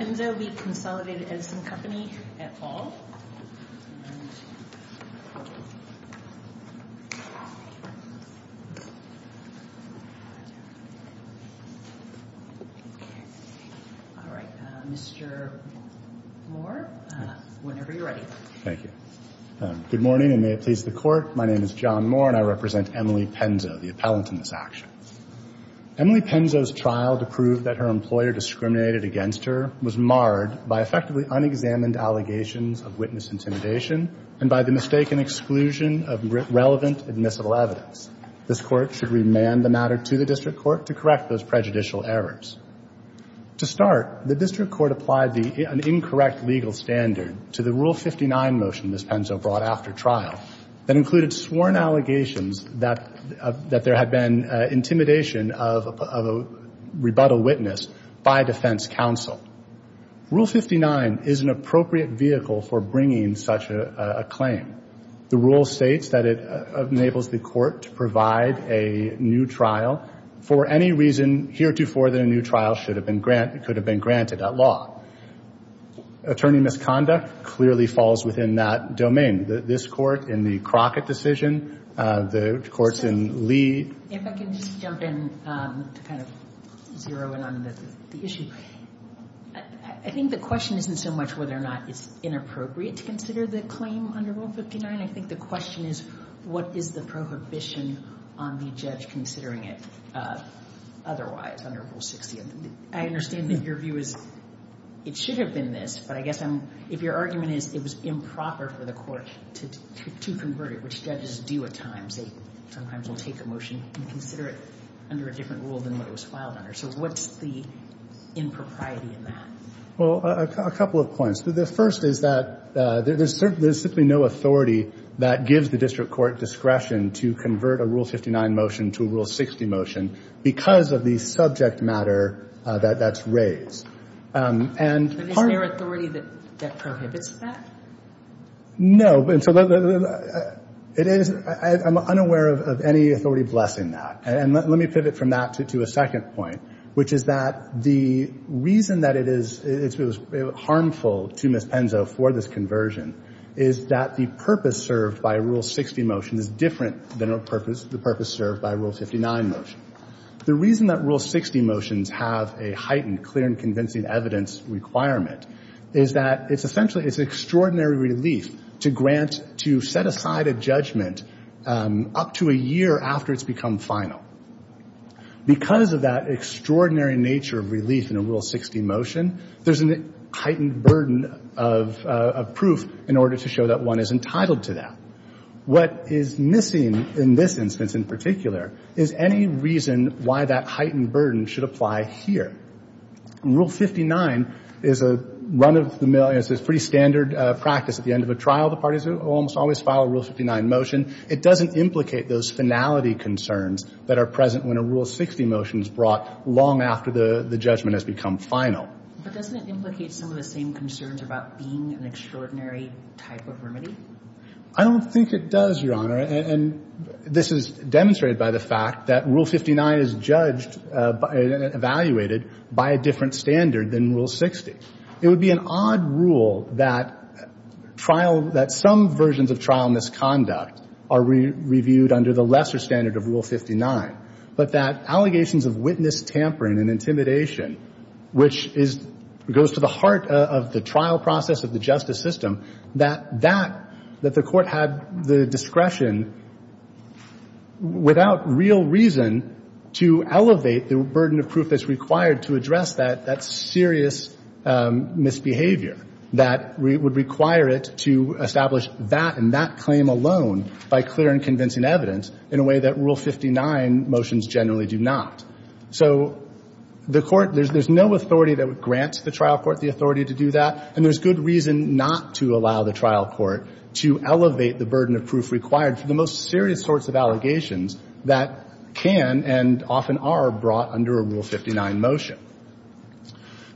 Can PENZO v. Consolidated Edison Company at all? Mr. Moore, whenever you're ready. Good morning and may it please the Court. My name is John Moore and I represent Emily PENZO, the appellant in this action. Emily PENZO's trial to prove that her employer discriminated against her was marred by effectively unexamined allegations of witness intimidation and by the mistaken exclusion of relevant admissible evidence. This Court should remand the matter to the District Court to correct those prejudicial errors. To start, the District Court applied an incorrect legal standard to the Rule 59 motion Ms. PENZO brought after trial that included sworn allegations that there had been intimidation of a rebuttal witness by defense counsel. Rule 59 is an appropriate vehicle for bringing such a claim. The rule states that it enables the Court to provide a new trial for any reason heretofore that a new trial could have been granted at law. Attorney misconduct clearly falls within that domain. This Court in the Crockett decision, the courts in Lee. If I can just jump in to kind of zero in on the issue. I think the question isn't so much whether or not it's inappropriate to consider the claim under Rule 59. I think the question is what is the prohibition on the judge considering it otherwise under Rule 60. I understand that your view is it should have been this. But I guess if your argument is it was improper for the court to convert it, which judges do at times. They sometimes will take a motion and consider it under a different rule than what it was filed under. So what's the impropriety in that? Well, a couple of points. The first is that there's simply no authority that gives the District Court discretion to convert a Rule 59 motion to a Rule 60 motion because of the subject matter that that's raised. Is there authority that prohibits that? No. I'm unaware of any authority blessing that. And let me pivot from that to a second point, which is that the reason that it is harmful to Ms. Penzo for this conversion is that the purpose served by a Rule 60 motion is different than the purpose served by a Rule 59 motion. The reason that Rule 60 motions have a heightened clear and convincing evidence requirement is that it's essentially extraordinary relief to grant to set aside a judgment up to a year after it's become final. Because of that extraordinary nature of relief in a Rule 60 motion, there's a heightened burden of proof in order to show that one is entitled to that. What is missing in this instance in particular is any reason why that heightened burden should apply here. Rule 59 is a run-of-the-mill, it's a pretty standard practice at the end of a trial. The parties almost always file a Rule 59 motion. It doesn't implicate those finality concerns that are present when a Rule 60 motion is brought long after the judgment has become final. But doesn't it implicate some of the same concerns about being an extraordinary type of remedy? I don't think it does, Your Honor. And this is demonstrated by the fact that Rule 59 is judged and evaluated by a different standard than Rule 60. It would be an odd rule that some versions of trial misconduct are reviewed under the lesser standard of Rule 59, but that allegations of witness tampering and intimidation, which goes to the heart of the trial process of the justice system, that the Court had the discretion, without real reason, to elevate the burden of proof that's required to address that serious misbehavior that would require it to establish that and that claim alone by clear and convincing evidence in a way that Rule 59 motions generally do not. So the Court, there's no authority that would grant the trial court the authority to do that, and there's good reason not to allow the trial court to elevate the burden of proof required for the most serious sorts of allegations that can and often are brought under a Rule 59 motion.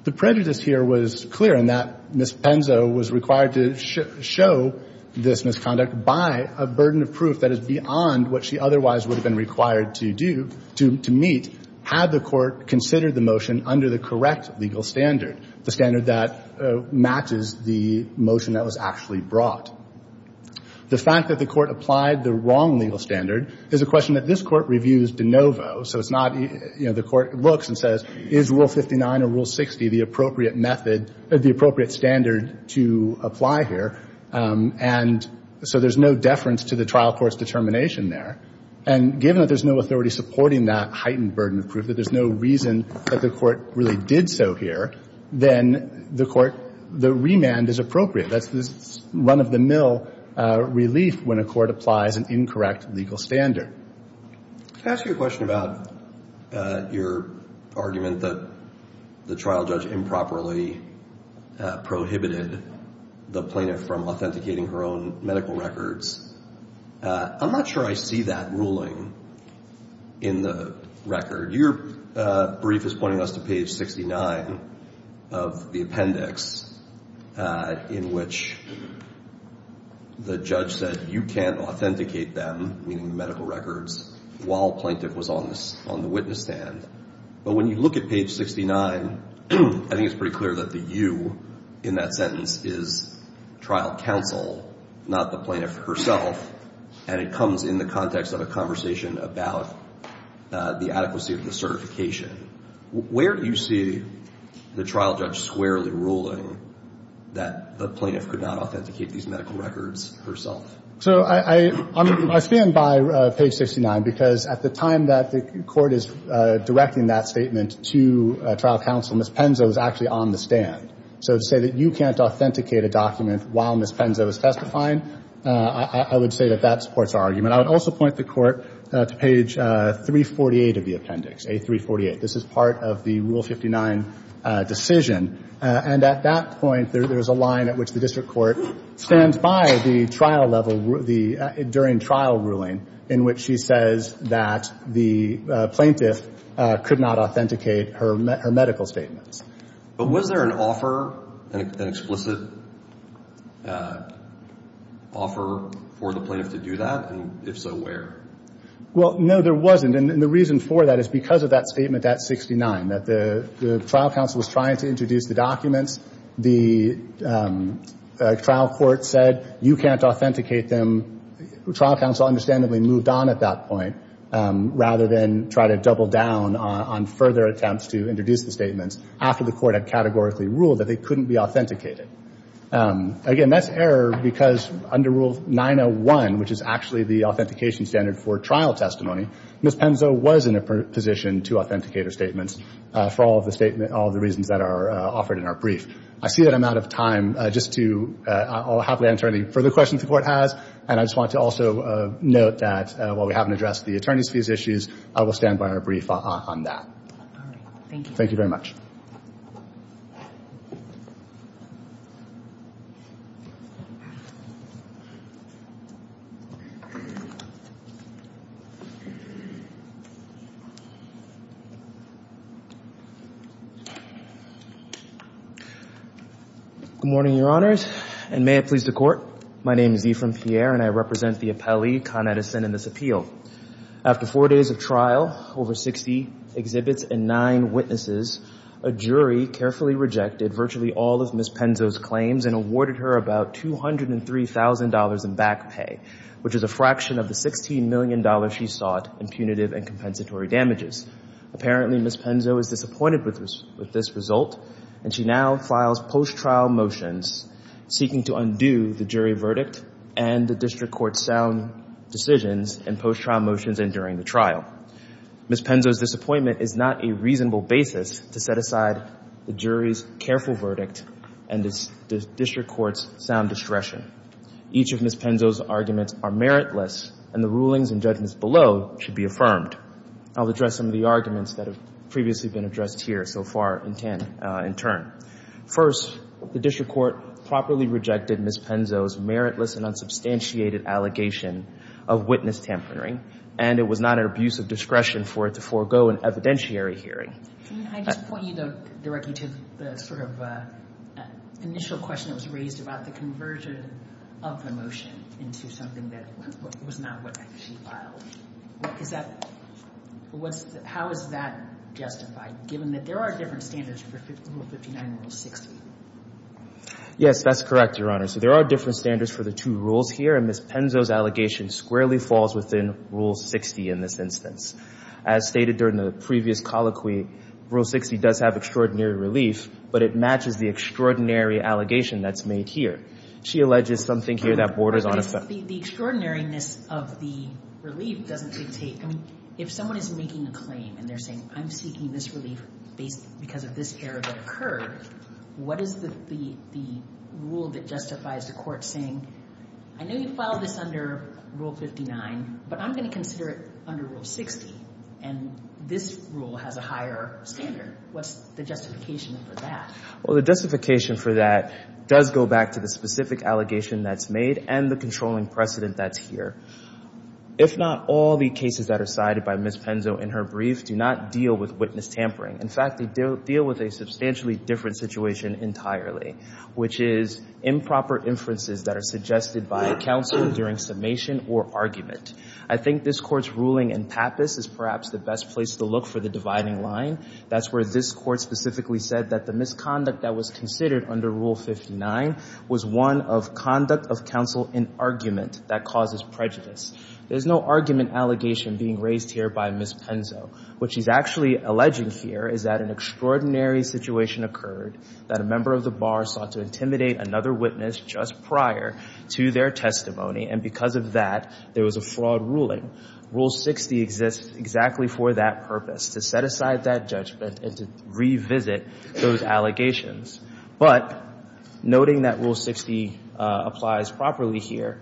The prejudice here was clear in that Ms. Penzo was required to show this misconduct by a burden of proof that is beyond what she otherwise would have been required to do, to meet, had the Court considered the motion under the correct legal standard, the standard that matches the motion that was actually brought. The fact that the Court applied the wrong legal standard is a question that this Court reviews de novo, so it's not, you know, the Court looks and says, is Rule 59 or Rule 60 the appropriate method, the appropriate standard to apply here? And so there's no deference to the trial court's determination there. And given that there's no authority supporting that heightened burden of proof, that there's no reason that the Court really did so here, then the Court, the remand is appropriate. That's the run-of-the-mill relief when a Court applies an incorrect legal standard. Can I ask you a question about your argument that the trial judge improperly prohibited the plaintiff from authenticating her own medical records? I'm not sure I see that ruling in the record. Your brief is pointing us to page 69 of the appendix in which the judge said you can't authenticate them, meaning medical records, while the plaintiff was on the witness stand. But when you look at page 69, I think it's pretty clear that the you in that sentence is trial counsel, not the plaintiff herself, and it comes in the context of a conversation about the adequacy of the certification. Where do you see the trial judge squarely ruling that the plaintiff could not authenticate these medical records herself? So I stand by page 69 because at the time that the Court is directing that statement to trial counsel, Ms. Penzo is actually on the stand. So to say that you can't authenticate a document while Ms. Penzo is testifying, I would say that that supports our argument. I would also point the Court to page 348 of the appendix, A348. This is part of the Rule 59 decision. And at that point, there is a line at which the district court stands by the trial level during trial ruling in which she says that the plaintiff could not authenticate her medical statements. But was there an offer, an explicit offer for the plaintiff to do that? And if so, where? Well, no, there wasn't. And the reason for that is because of that statement at 69, that the trial counsel was trying to introduce the documents. The trial court said you can't authenticate them. Trial counsel understandably moved on at that point rather than try to double down on further attempts to introduce the statements. After the Court had categorically ruled that they couldn't be authenticated. Again, that's error because under Rule 901, which is actually the authentication standard for trial testimony, Ms. Penzo was in a position to authenticate her statements for all of the reasons that are offered in our brief. I see that I'm out of time. I'll happily answer any further questions the Court has. And I just want to also note that while we haven't addressed the attorney's fees issues, I will stand by our brief on that. Thank you. Thank you very much. Good morning, Your Honors. And may it please the Court, my name is Ephraim Pierre and I represent the appellee, Con Edison, in this appeal. After four days of trial, over 60 exhibits and nine witnesses, a jury carefully rejected virtually all of Ms. Penzo's claims and awarded her about $203,000 in back pay, which is a fraction of the $16 million she sought in punitive and compensatory damages. Apparently, Ms. Penzo is disappointed with this result and she now files post-trial motions seeking to undo the jury verdict and the district court's sound decisions and post-trial motions enduring the trial. Ms. Penzo's disappointment is not a reasonable basis to set aside the jury's careful verdict and the district court's sound discretion. Each of Ms. Penzo's arguments are meritless and the rulings and judgments below should be affirmed. I'll address some of the arguments that have previously been addressed here so far in turn. First, the district court properly rejected Ms. Penzo's meritless and unsubstantiated allegation of witness tampering and it was not an abuse of discretion for it to forego an evidentiary hearing. Can I just point you directly to the sort of initial question that was raised about the conversion of the motion into something that was not what she filed? How is that justified given that there are different standards for Rule 59 and Rule 60? Yes, that's correct, Your Honor. So there are different standards for the two rules here and Ms. Penzo's allegation squarely falls within Rule 60 in this instance. As stated during the previous colloquy, Rule 60 does have extraordinary relief, but it matches the extraordinary allegation that's made here. She alleges something here that borders on a fact. But the extraordinariness of the relief doesn't dictate. I mean, if someone is making a claim and they're saying, I'm seeking this relief because of this error that occurred, what is the rule that justifies the court saying, I know you filed this under Rule 59, but I'm going to consider it under Rule 60, and this rule has a higher standard. What's the justification for that? Well, the justification for that does go back to the specific allegation that's made and the controlling precedent that's here. If not, all the cases that are cited by Ms. Penzo in her brief do not deal with witness tampering. In fact, they deal with a substantially different situation entirely, which is improper inferences that are suggested by counsel during summation or argument. I think this Court's ruling in Pappus is perhaps the best place to look for the dividing line. That's where this Court specifically said that the misconduct that was considered under Rule 59 was one of conduct of counsel in argument that causes prejudice. There's no argument allegation being raised here by Ms. Penzo. What she's actually alleging here is that an extraordinary situation occurred, that a member of the bar sought to intimidate another witness just prior to their testimony, and because of that, there was a fraud ruling. Rule 60 exists exactly for that purpose. It's to set aside that judgment and to revisit those allegations. But noting that Rule 60 applies properly here,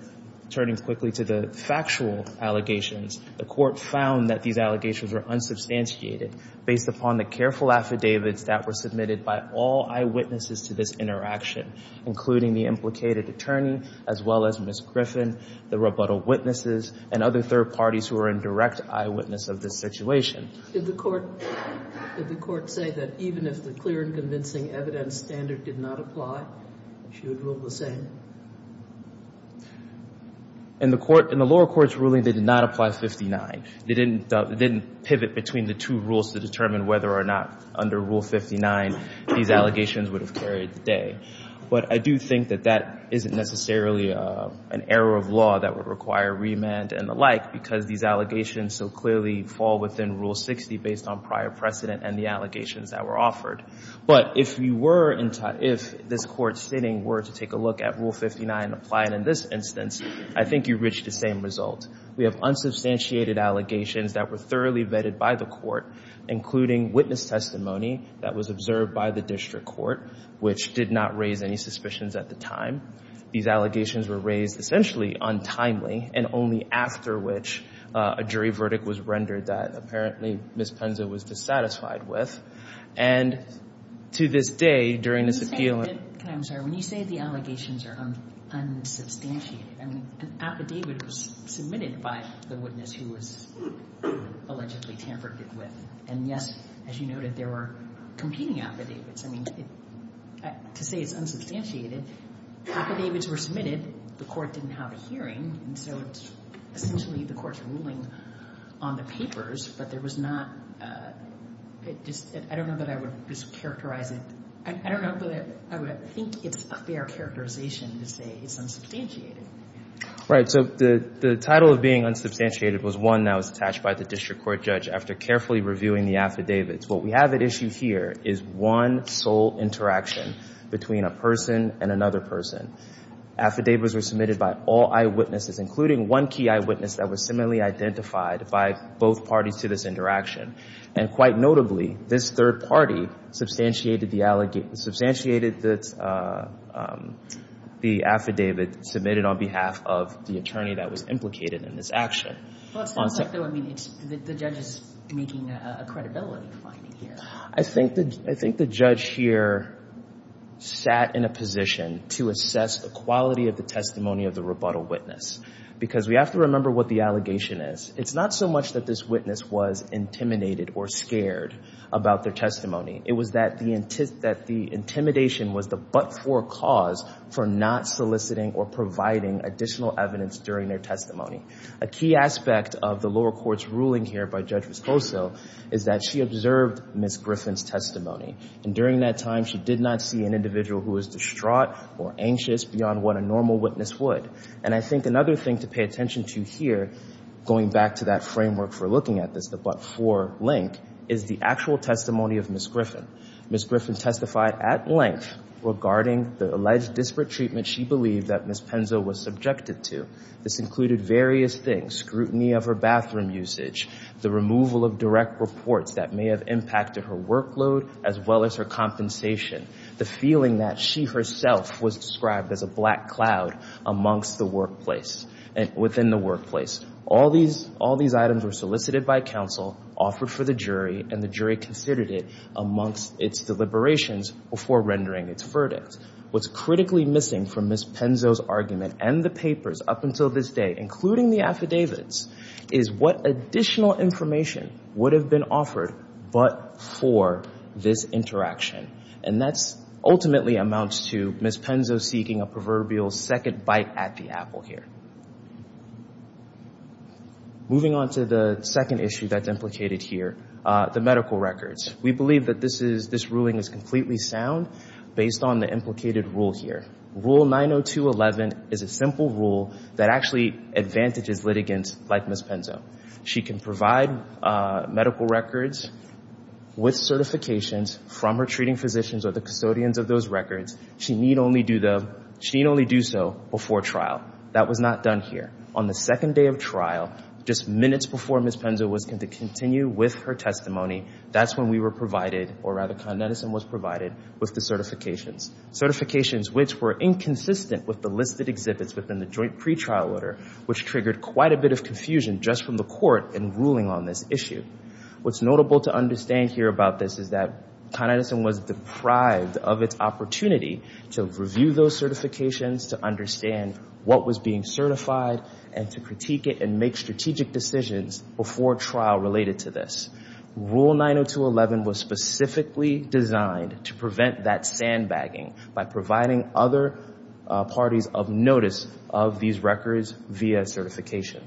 turning quickly to the factual allegations, the Court found that these allegations were unsubstantiated based upon the careful affidavits that were submitted by all eyewitnesses to this interaction, including the implicated attorney, as well as Ms. Griffin, the rebuttal witnesses, and other third parties who are in direct eyewitness of this situation. Did the Court say that even if the clear and convincing evidence standard did not apply, she would rule the same? In the lower court's ruling, they did not apply 59. They didn't pivot between the two rules to determine whether or not under Rule 59 these allegations would have carried the day. But I do think that that isn't necessarily an error of law that would require remand and the like because these allegations so clearly fall within Rule 60 based on prior precedent and the allegations that were offered. But if this Court sitting were to take a look at Rule 59 and apply it in this instance, I think you reach the same result. We have unsubstantiated allegations that were thoroughly vetted by the Court, including witness testimony that was observed by the district court, which did not raise any suspicions at the time. These allegations were raised essentially untimely, and only after which a jury verdict was rendered that apparently Ms. Penza was dissatisfied with. And to this day, during this appeal and... I'm sorry. When you say the allegations are unsubstantiated, I mean, an affidavit was submitted by the witness who was allegedly tampered with. And, yes, as you noted, there were competing affidavits. I mean, to say it's unsubstantiated, affidavits were submitted. The Court didn't have a hearing, and so essentially the Court's ruling on the papers, but there was not... I don't know that I would just characterize it. I don't know that I would think it's a fair characterization to say it's unsubstantiated. Right. So the title of being unsubstantiated was one that was attached by the district court judge after carefully reviewing the affidavits. What we have at issue here is one sole interaction between a person and another person. Affidavits were submitted by all eyewitnesses, including one key eyewitness that was similarly identified by both parties to this interaction. And quite notably, this third party substantiated the affidavit submitted on behalf of the attorney that was implicated in this action. Well, it sounds like, though, I mean, the judge is making a credibility finding here. I think the judge here sat in a position to assess the quality of the testimony of the rebuttal witness because we have to remember what the allegation is. It's not so much that this witness was intimidated or scared about their testimony. It was that the intimidation was the but-for cause for not soliciting or providing additional evidence during their testimony. A key aspect of the lower court's ruling here by Judge Risposal is that she observed Ms. Griffin's testimony. And during that time, she did not see an individual who was distraught or anxious beyond what a normal witness would. And I think another thing to pay attention to here, going back to that framework for looking at this, the but-for link, is the actual testimony of Ms. Griffin. Ms. Griffin testified at length regarding the alleged disparate treatment she believed that Ms. Penzo was subjected to. This included various things, scrutiny of her bathroom usage, the removal of direct reports that may have impacted her workload as well as her compensation, the feeling that she herself was described as a black cloud amongst the workplace, within the workplace. All these items were solicited by counsel, offered for the jury, and the jury considered it amongst its deliberations before rendering its verdict. What's critically missing from Ms. Penzo's argument and the papers up until this day, including the affidavits, is what additional information would have been offered but for this interaction. And that ultimately amounts to Ms. Penzo seeking a proverbial second bite at the apple here. Moving on to the second issue that's implicated here, the medical records. We believe that this ruling is completely sound based on the implicated rule here. Rule 90211 is a simple rule that actually advantages litigants like Ms. Penzo. She can provide medical records with certifications from her treating physicians or the custodians of those records. She need only do so before trial. That was not done here. On the second day of trial, just minutes before Ms. Penzo was going to continue with her testimony, that's when we were provided, or rather Con Edison was provided, with the certifications. Certifications which were inconsistent with the listed exhibits within the joint pretrial order, which triggered quite a bit of confusion just from the court in ruling on this issue. What's notable to understand here about this is that Con Edison was deprived of its opportunity to review those certifications, to understand what was being certified, and to critique it and make strategic decisions before trial related to this. Rule 90211 was specifically designed to prevent that sandbagging by providing other parties of notice of these records via certification.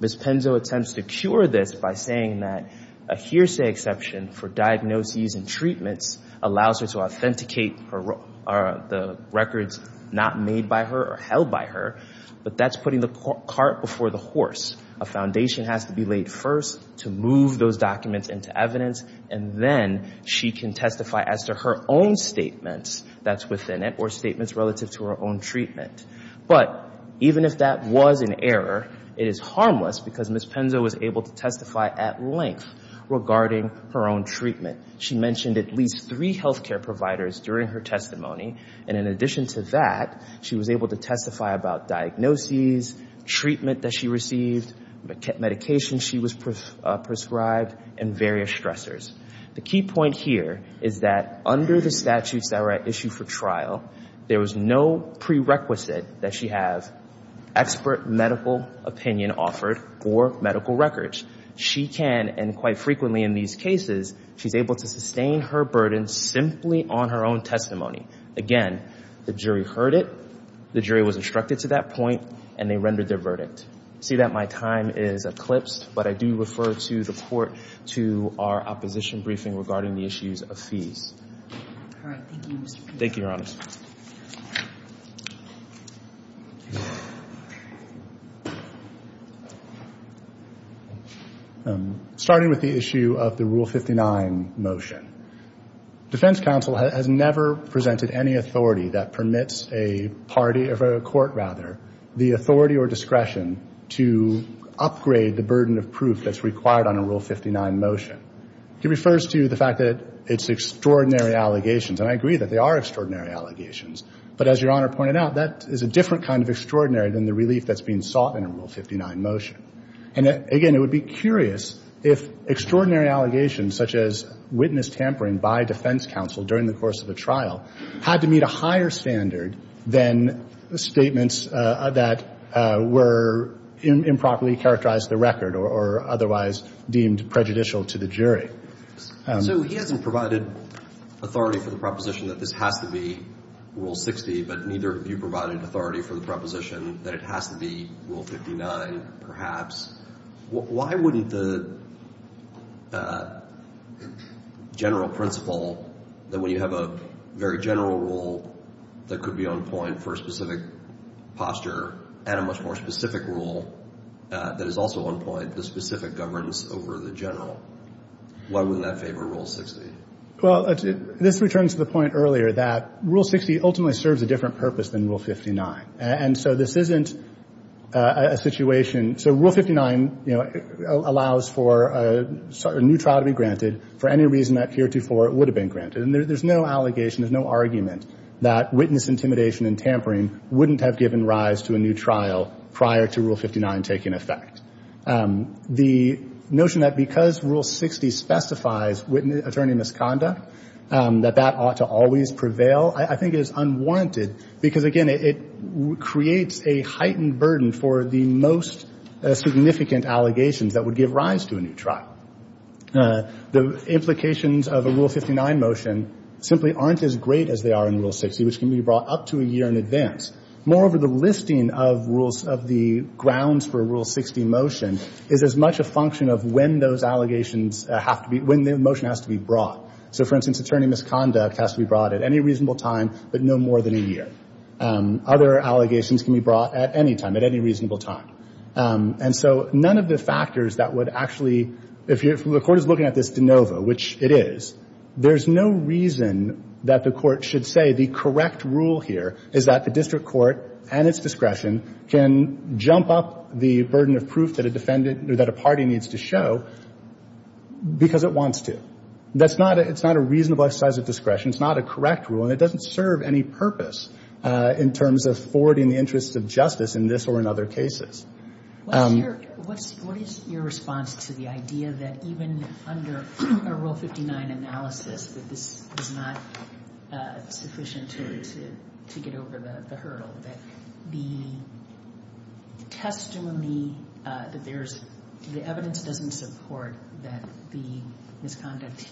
Ms. Penzo attempts to cure this by saying that a hearsay exception for diagnoses and treatments allows her to authenticate the records not made by her or held by her, but that's putting the cart before the horse. A foundation has to be laid first to move those documents into evidence, and then she can testify as to her own statements that's within it or statements relative to her own treatment. But even if that was an error, it is harmless because Ms. Penzo was able to testify at length regarding her own treatment. She mentioned at least three health care providers during her testimony, and in addition to that, she was able to testify about diagnoses, treatment that she received, medications she was prescribed, and various stressors. The key point here is that under the statutes that were issued for trial, there was no prerequisite that she have expert medical opinion offered for medical records. She can, and quite frequently in these cases, she's able to sustain her burden simply on her own testimony. Again, the jury heard it, the jury was instructed to that point, and they rendered their verdict. I see that my time is eclipsed, but I do refer to the court to our opposition briefing regarding the issues of fees. Thank you, Your Honor. Starting with the issue of the Rule 59 motion. Defense counsel has never presented any authority that permits a party of a court, rather, the authority or discretion to upgrade the burden of proof that's required on a Rule 59 motion. He refers to the fact that it's extraordinary allegations, and I agree that they are extraordinary allegations, but as Your Honor pointed out, that is a different kind of extraordinary than the relief that's being sought in a Rule 59 motion. And again, it would be curious if extraordinary allegations such as witness tampering by defense counsel during the course of a trial had to meet a higher standard than statements that were improperly characterized to the record or otherwise deemed prejudicial to the jury. So he hasn't provided authority for the proposition that this has to be Rule 60, but neither have you provided authority for the proposition that it has to be Rule 59, perhaps. Why wouldn't the general principle that when you have a very general rule that could be on point for a specific posture and a much more specific rule that is also on point for specific governance over the general, why wouldn't that favor Rule 60? Well, this returns to the point earlier that Rule 60 ultimately serves a different purpose than Rule 59. And so this isn't a situation so Rule 59, you know, allows for a new trial to be granted for any reason that heretofore it would have been granted. And there's no allegation, there's no argument that witness intimidation and tampering wouldn't have given rise to a new trial prior to Rule 59 taking effect. The notion that because Rule 60 specifies attorney misconduct, that that ought to always prevail, I think is unwanted because, again, it creates a heightened burden for the most significant allegations that would give rise to a new trial. The implications of a Rule 59 motion simply aren't as great as they are in Rule 60, which can be brought up to a year in advance. Moreover, the listing of the grounds for a Rule 60 motion is as much a function of when those allegations have to be, when the motion has to be brought. So, for instance, attorney misconduct has to be brought at any reasonable time but no more than a year. Other allegations can be brought at any time, at any reasonable time. And so none of the factors that would actually, if the court is looking at this de novo, which it is, there's no reason that the court should say the correct rule here is that the district court and its discretion can jump up the burden of proof that a defendant or that a party needs to show because it wants to. That's not a reasonable exercise of discretion. It's not a correct rule and it doesn't serve any purpose in terms of forwarding the interests of justice in this or in other cases. What is your response to the idea that even under a Rule 59 analysis that this is not sufficient to get over the hurdle? That the testimony that there's, the evidence doesn't support that the misconduct,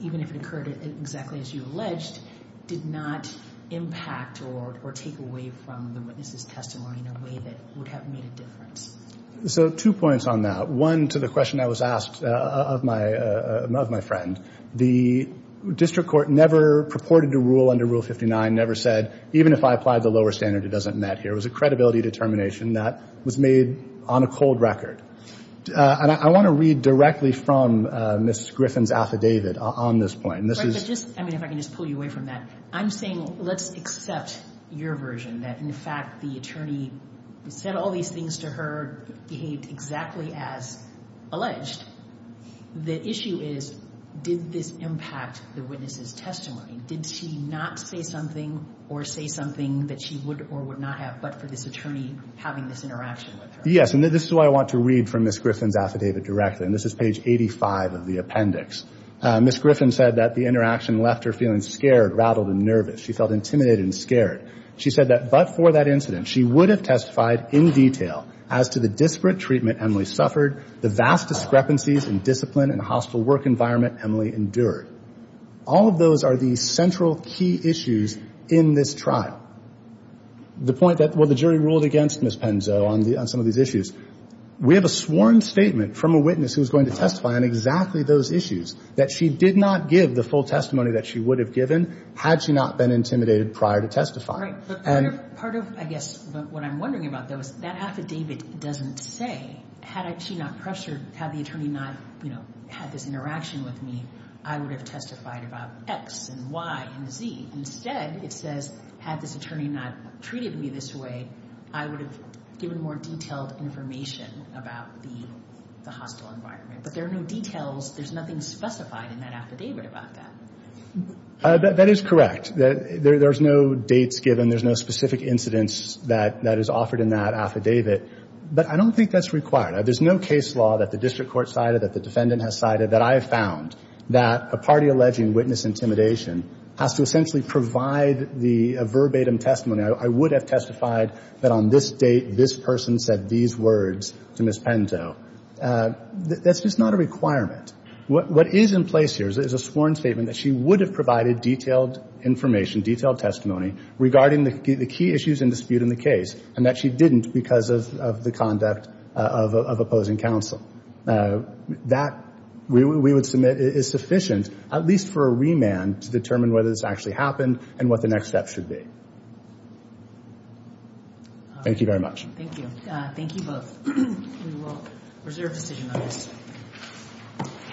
even if it occurred exactly as you alleged, did not impact or take away from the witness's testimony in a way that would have made a difference? So, two points on that. One, to the question that was asked of my friend. The district court never purported to rule under Rule 59, never said, even if I applied the lower standard, it doesn't matter here. It was a credibility determination that was made on a cold record. And I want to read directly from Ms. Griffin's affidavit on this point. Right, but just, I mean, if I can just pull you away from that. I'm saying let's accept your version that, in fact, the attorney said all these things to her, behaved exactly as alleged. The issue is, did this impact the witness's testimony? Did she not say something or say something that she would or would not have, but for this attorney having this interaction with her? Yes, and this is what I want to read from Ms. Griffin's affidavit directly. And this is page 85 of the appendix. Ms. Griffin said that the interaction left her feeling scared, rattled, and nervous. She felt intimidated and scared. She said that, but for that incident, she would have testified in detail as to the disparate treatment Emily suffered, the vast discrepancies in discipline and hostile work environment Emily endured. All of those are the central key issues in this trial. The point that, well, the jury ruled against Ms. Penzo on some of these issues. We have a sworn statement from a witness who is going to testify on exactly those issues, that she did not give the full testimony that she would have given had she not been intimidated prior to testifying. Part of, I guess, what I'm wondering about, though, is that affidavit doesn't say, had she not pressured, had the attorney not had this interaction with me, I would have testified about X and Y and Z. Instead, it says, had this attorney not treated me this way, I would have given more detailed information about the hostile environment. But there are no details. There's nothing specified in that affidavit about that. That is correct. There's no dates given. There's no specific incidents that is offered in that affidavit. But I don't think that's required. There's no case law that the district court cited, that the defendant has cited, that I have found that a party alleging witness intimidation has to essentially provide the verbatim testimony, I would have testified that on this date, this person said these words to Ms. Penzo. That's just not a requirement. What is in place here is a sworn statement that she would have provided detailed information, detailed testimony regarding the key issues in dispute in the case, and that she didn't because of the conduct of opposing counsel. That, we would submit, is sufficient, at least for a remand, to determine whether this actually happened and what the next steps should be. Thank you very much. Thank you. Thank you both. We will reserve decision on this.